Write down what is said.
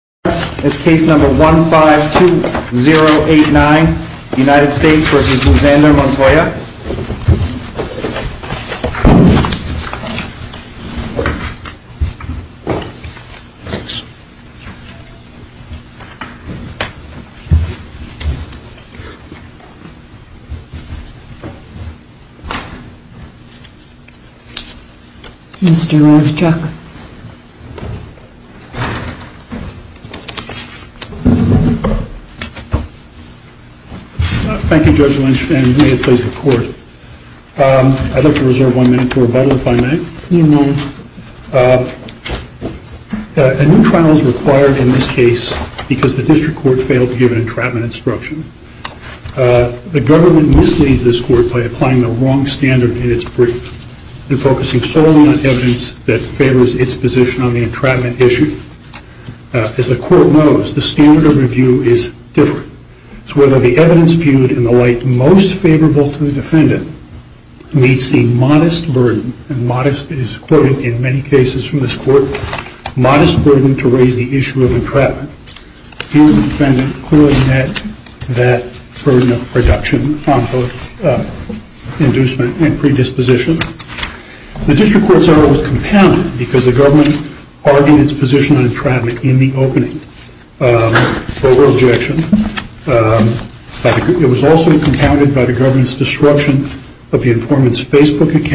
is case number 152089 United States v. Alexander Montoya Mr. Ravchak Thank you Judge Lynch and may it please the court. I'd like to reserve one minute for rebuttal if I may. A new trial is required in this case because the district court failed to give an entrapment instruction. The government misleads this court by applying the wrong standard in its brief and focusing solely on evidence that favors its position on the entrapment issue. As the court knows, the standard of review is different. It's whether the evidence viewed in the light most favorable to the defendant meets the modest burden and modest is quoted in many cases from this court, modest burden to raise the issue of entrapment. The district court's error was compounded because the government argued its position on entrapment in the opening. It was also compounded by the government's disruption of the informant's Facebook account.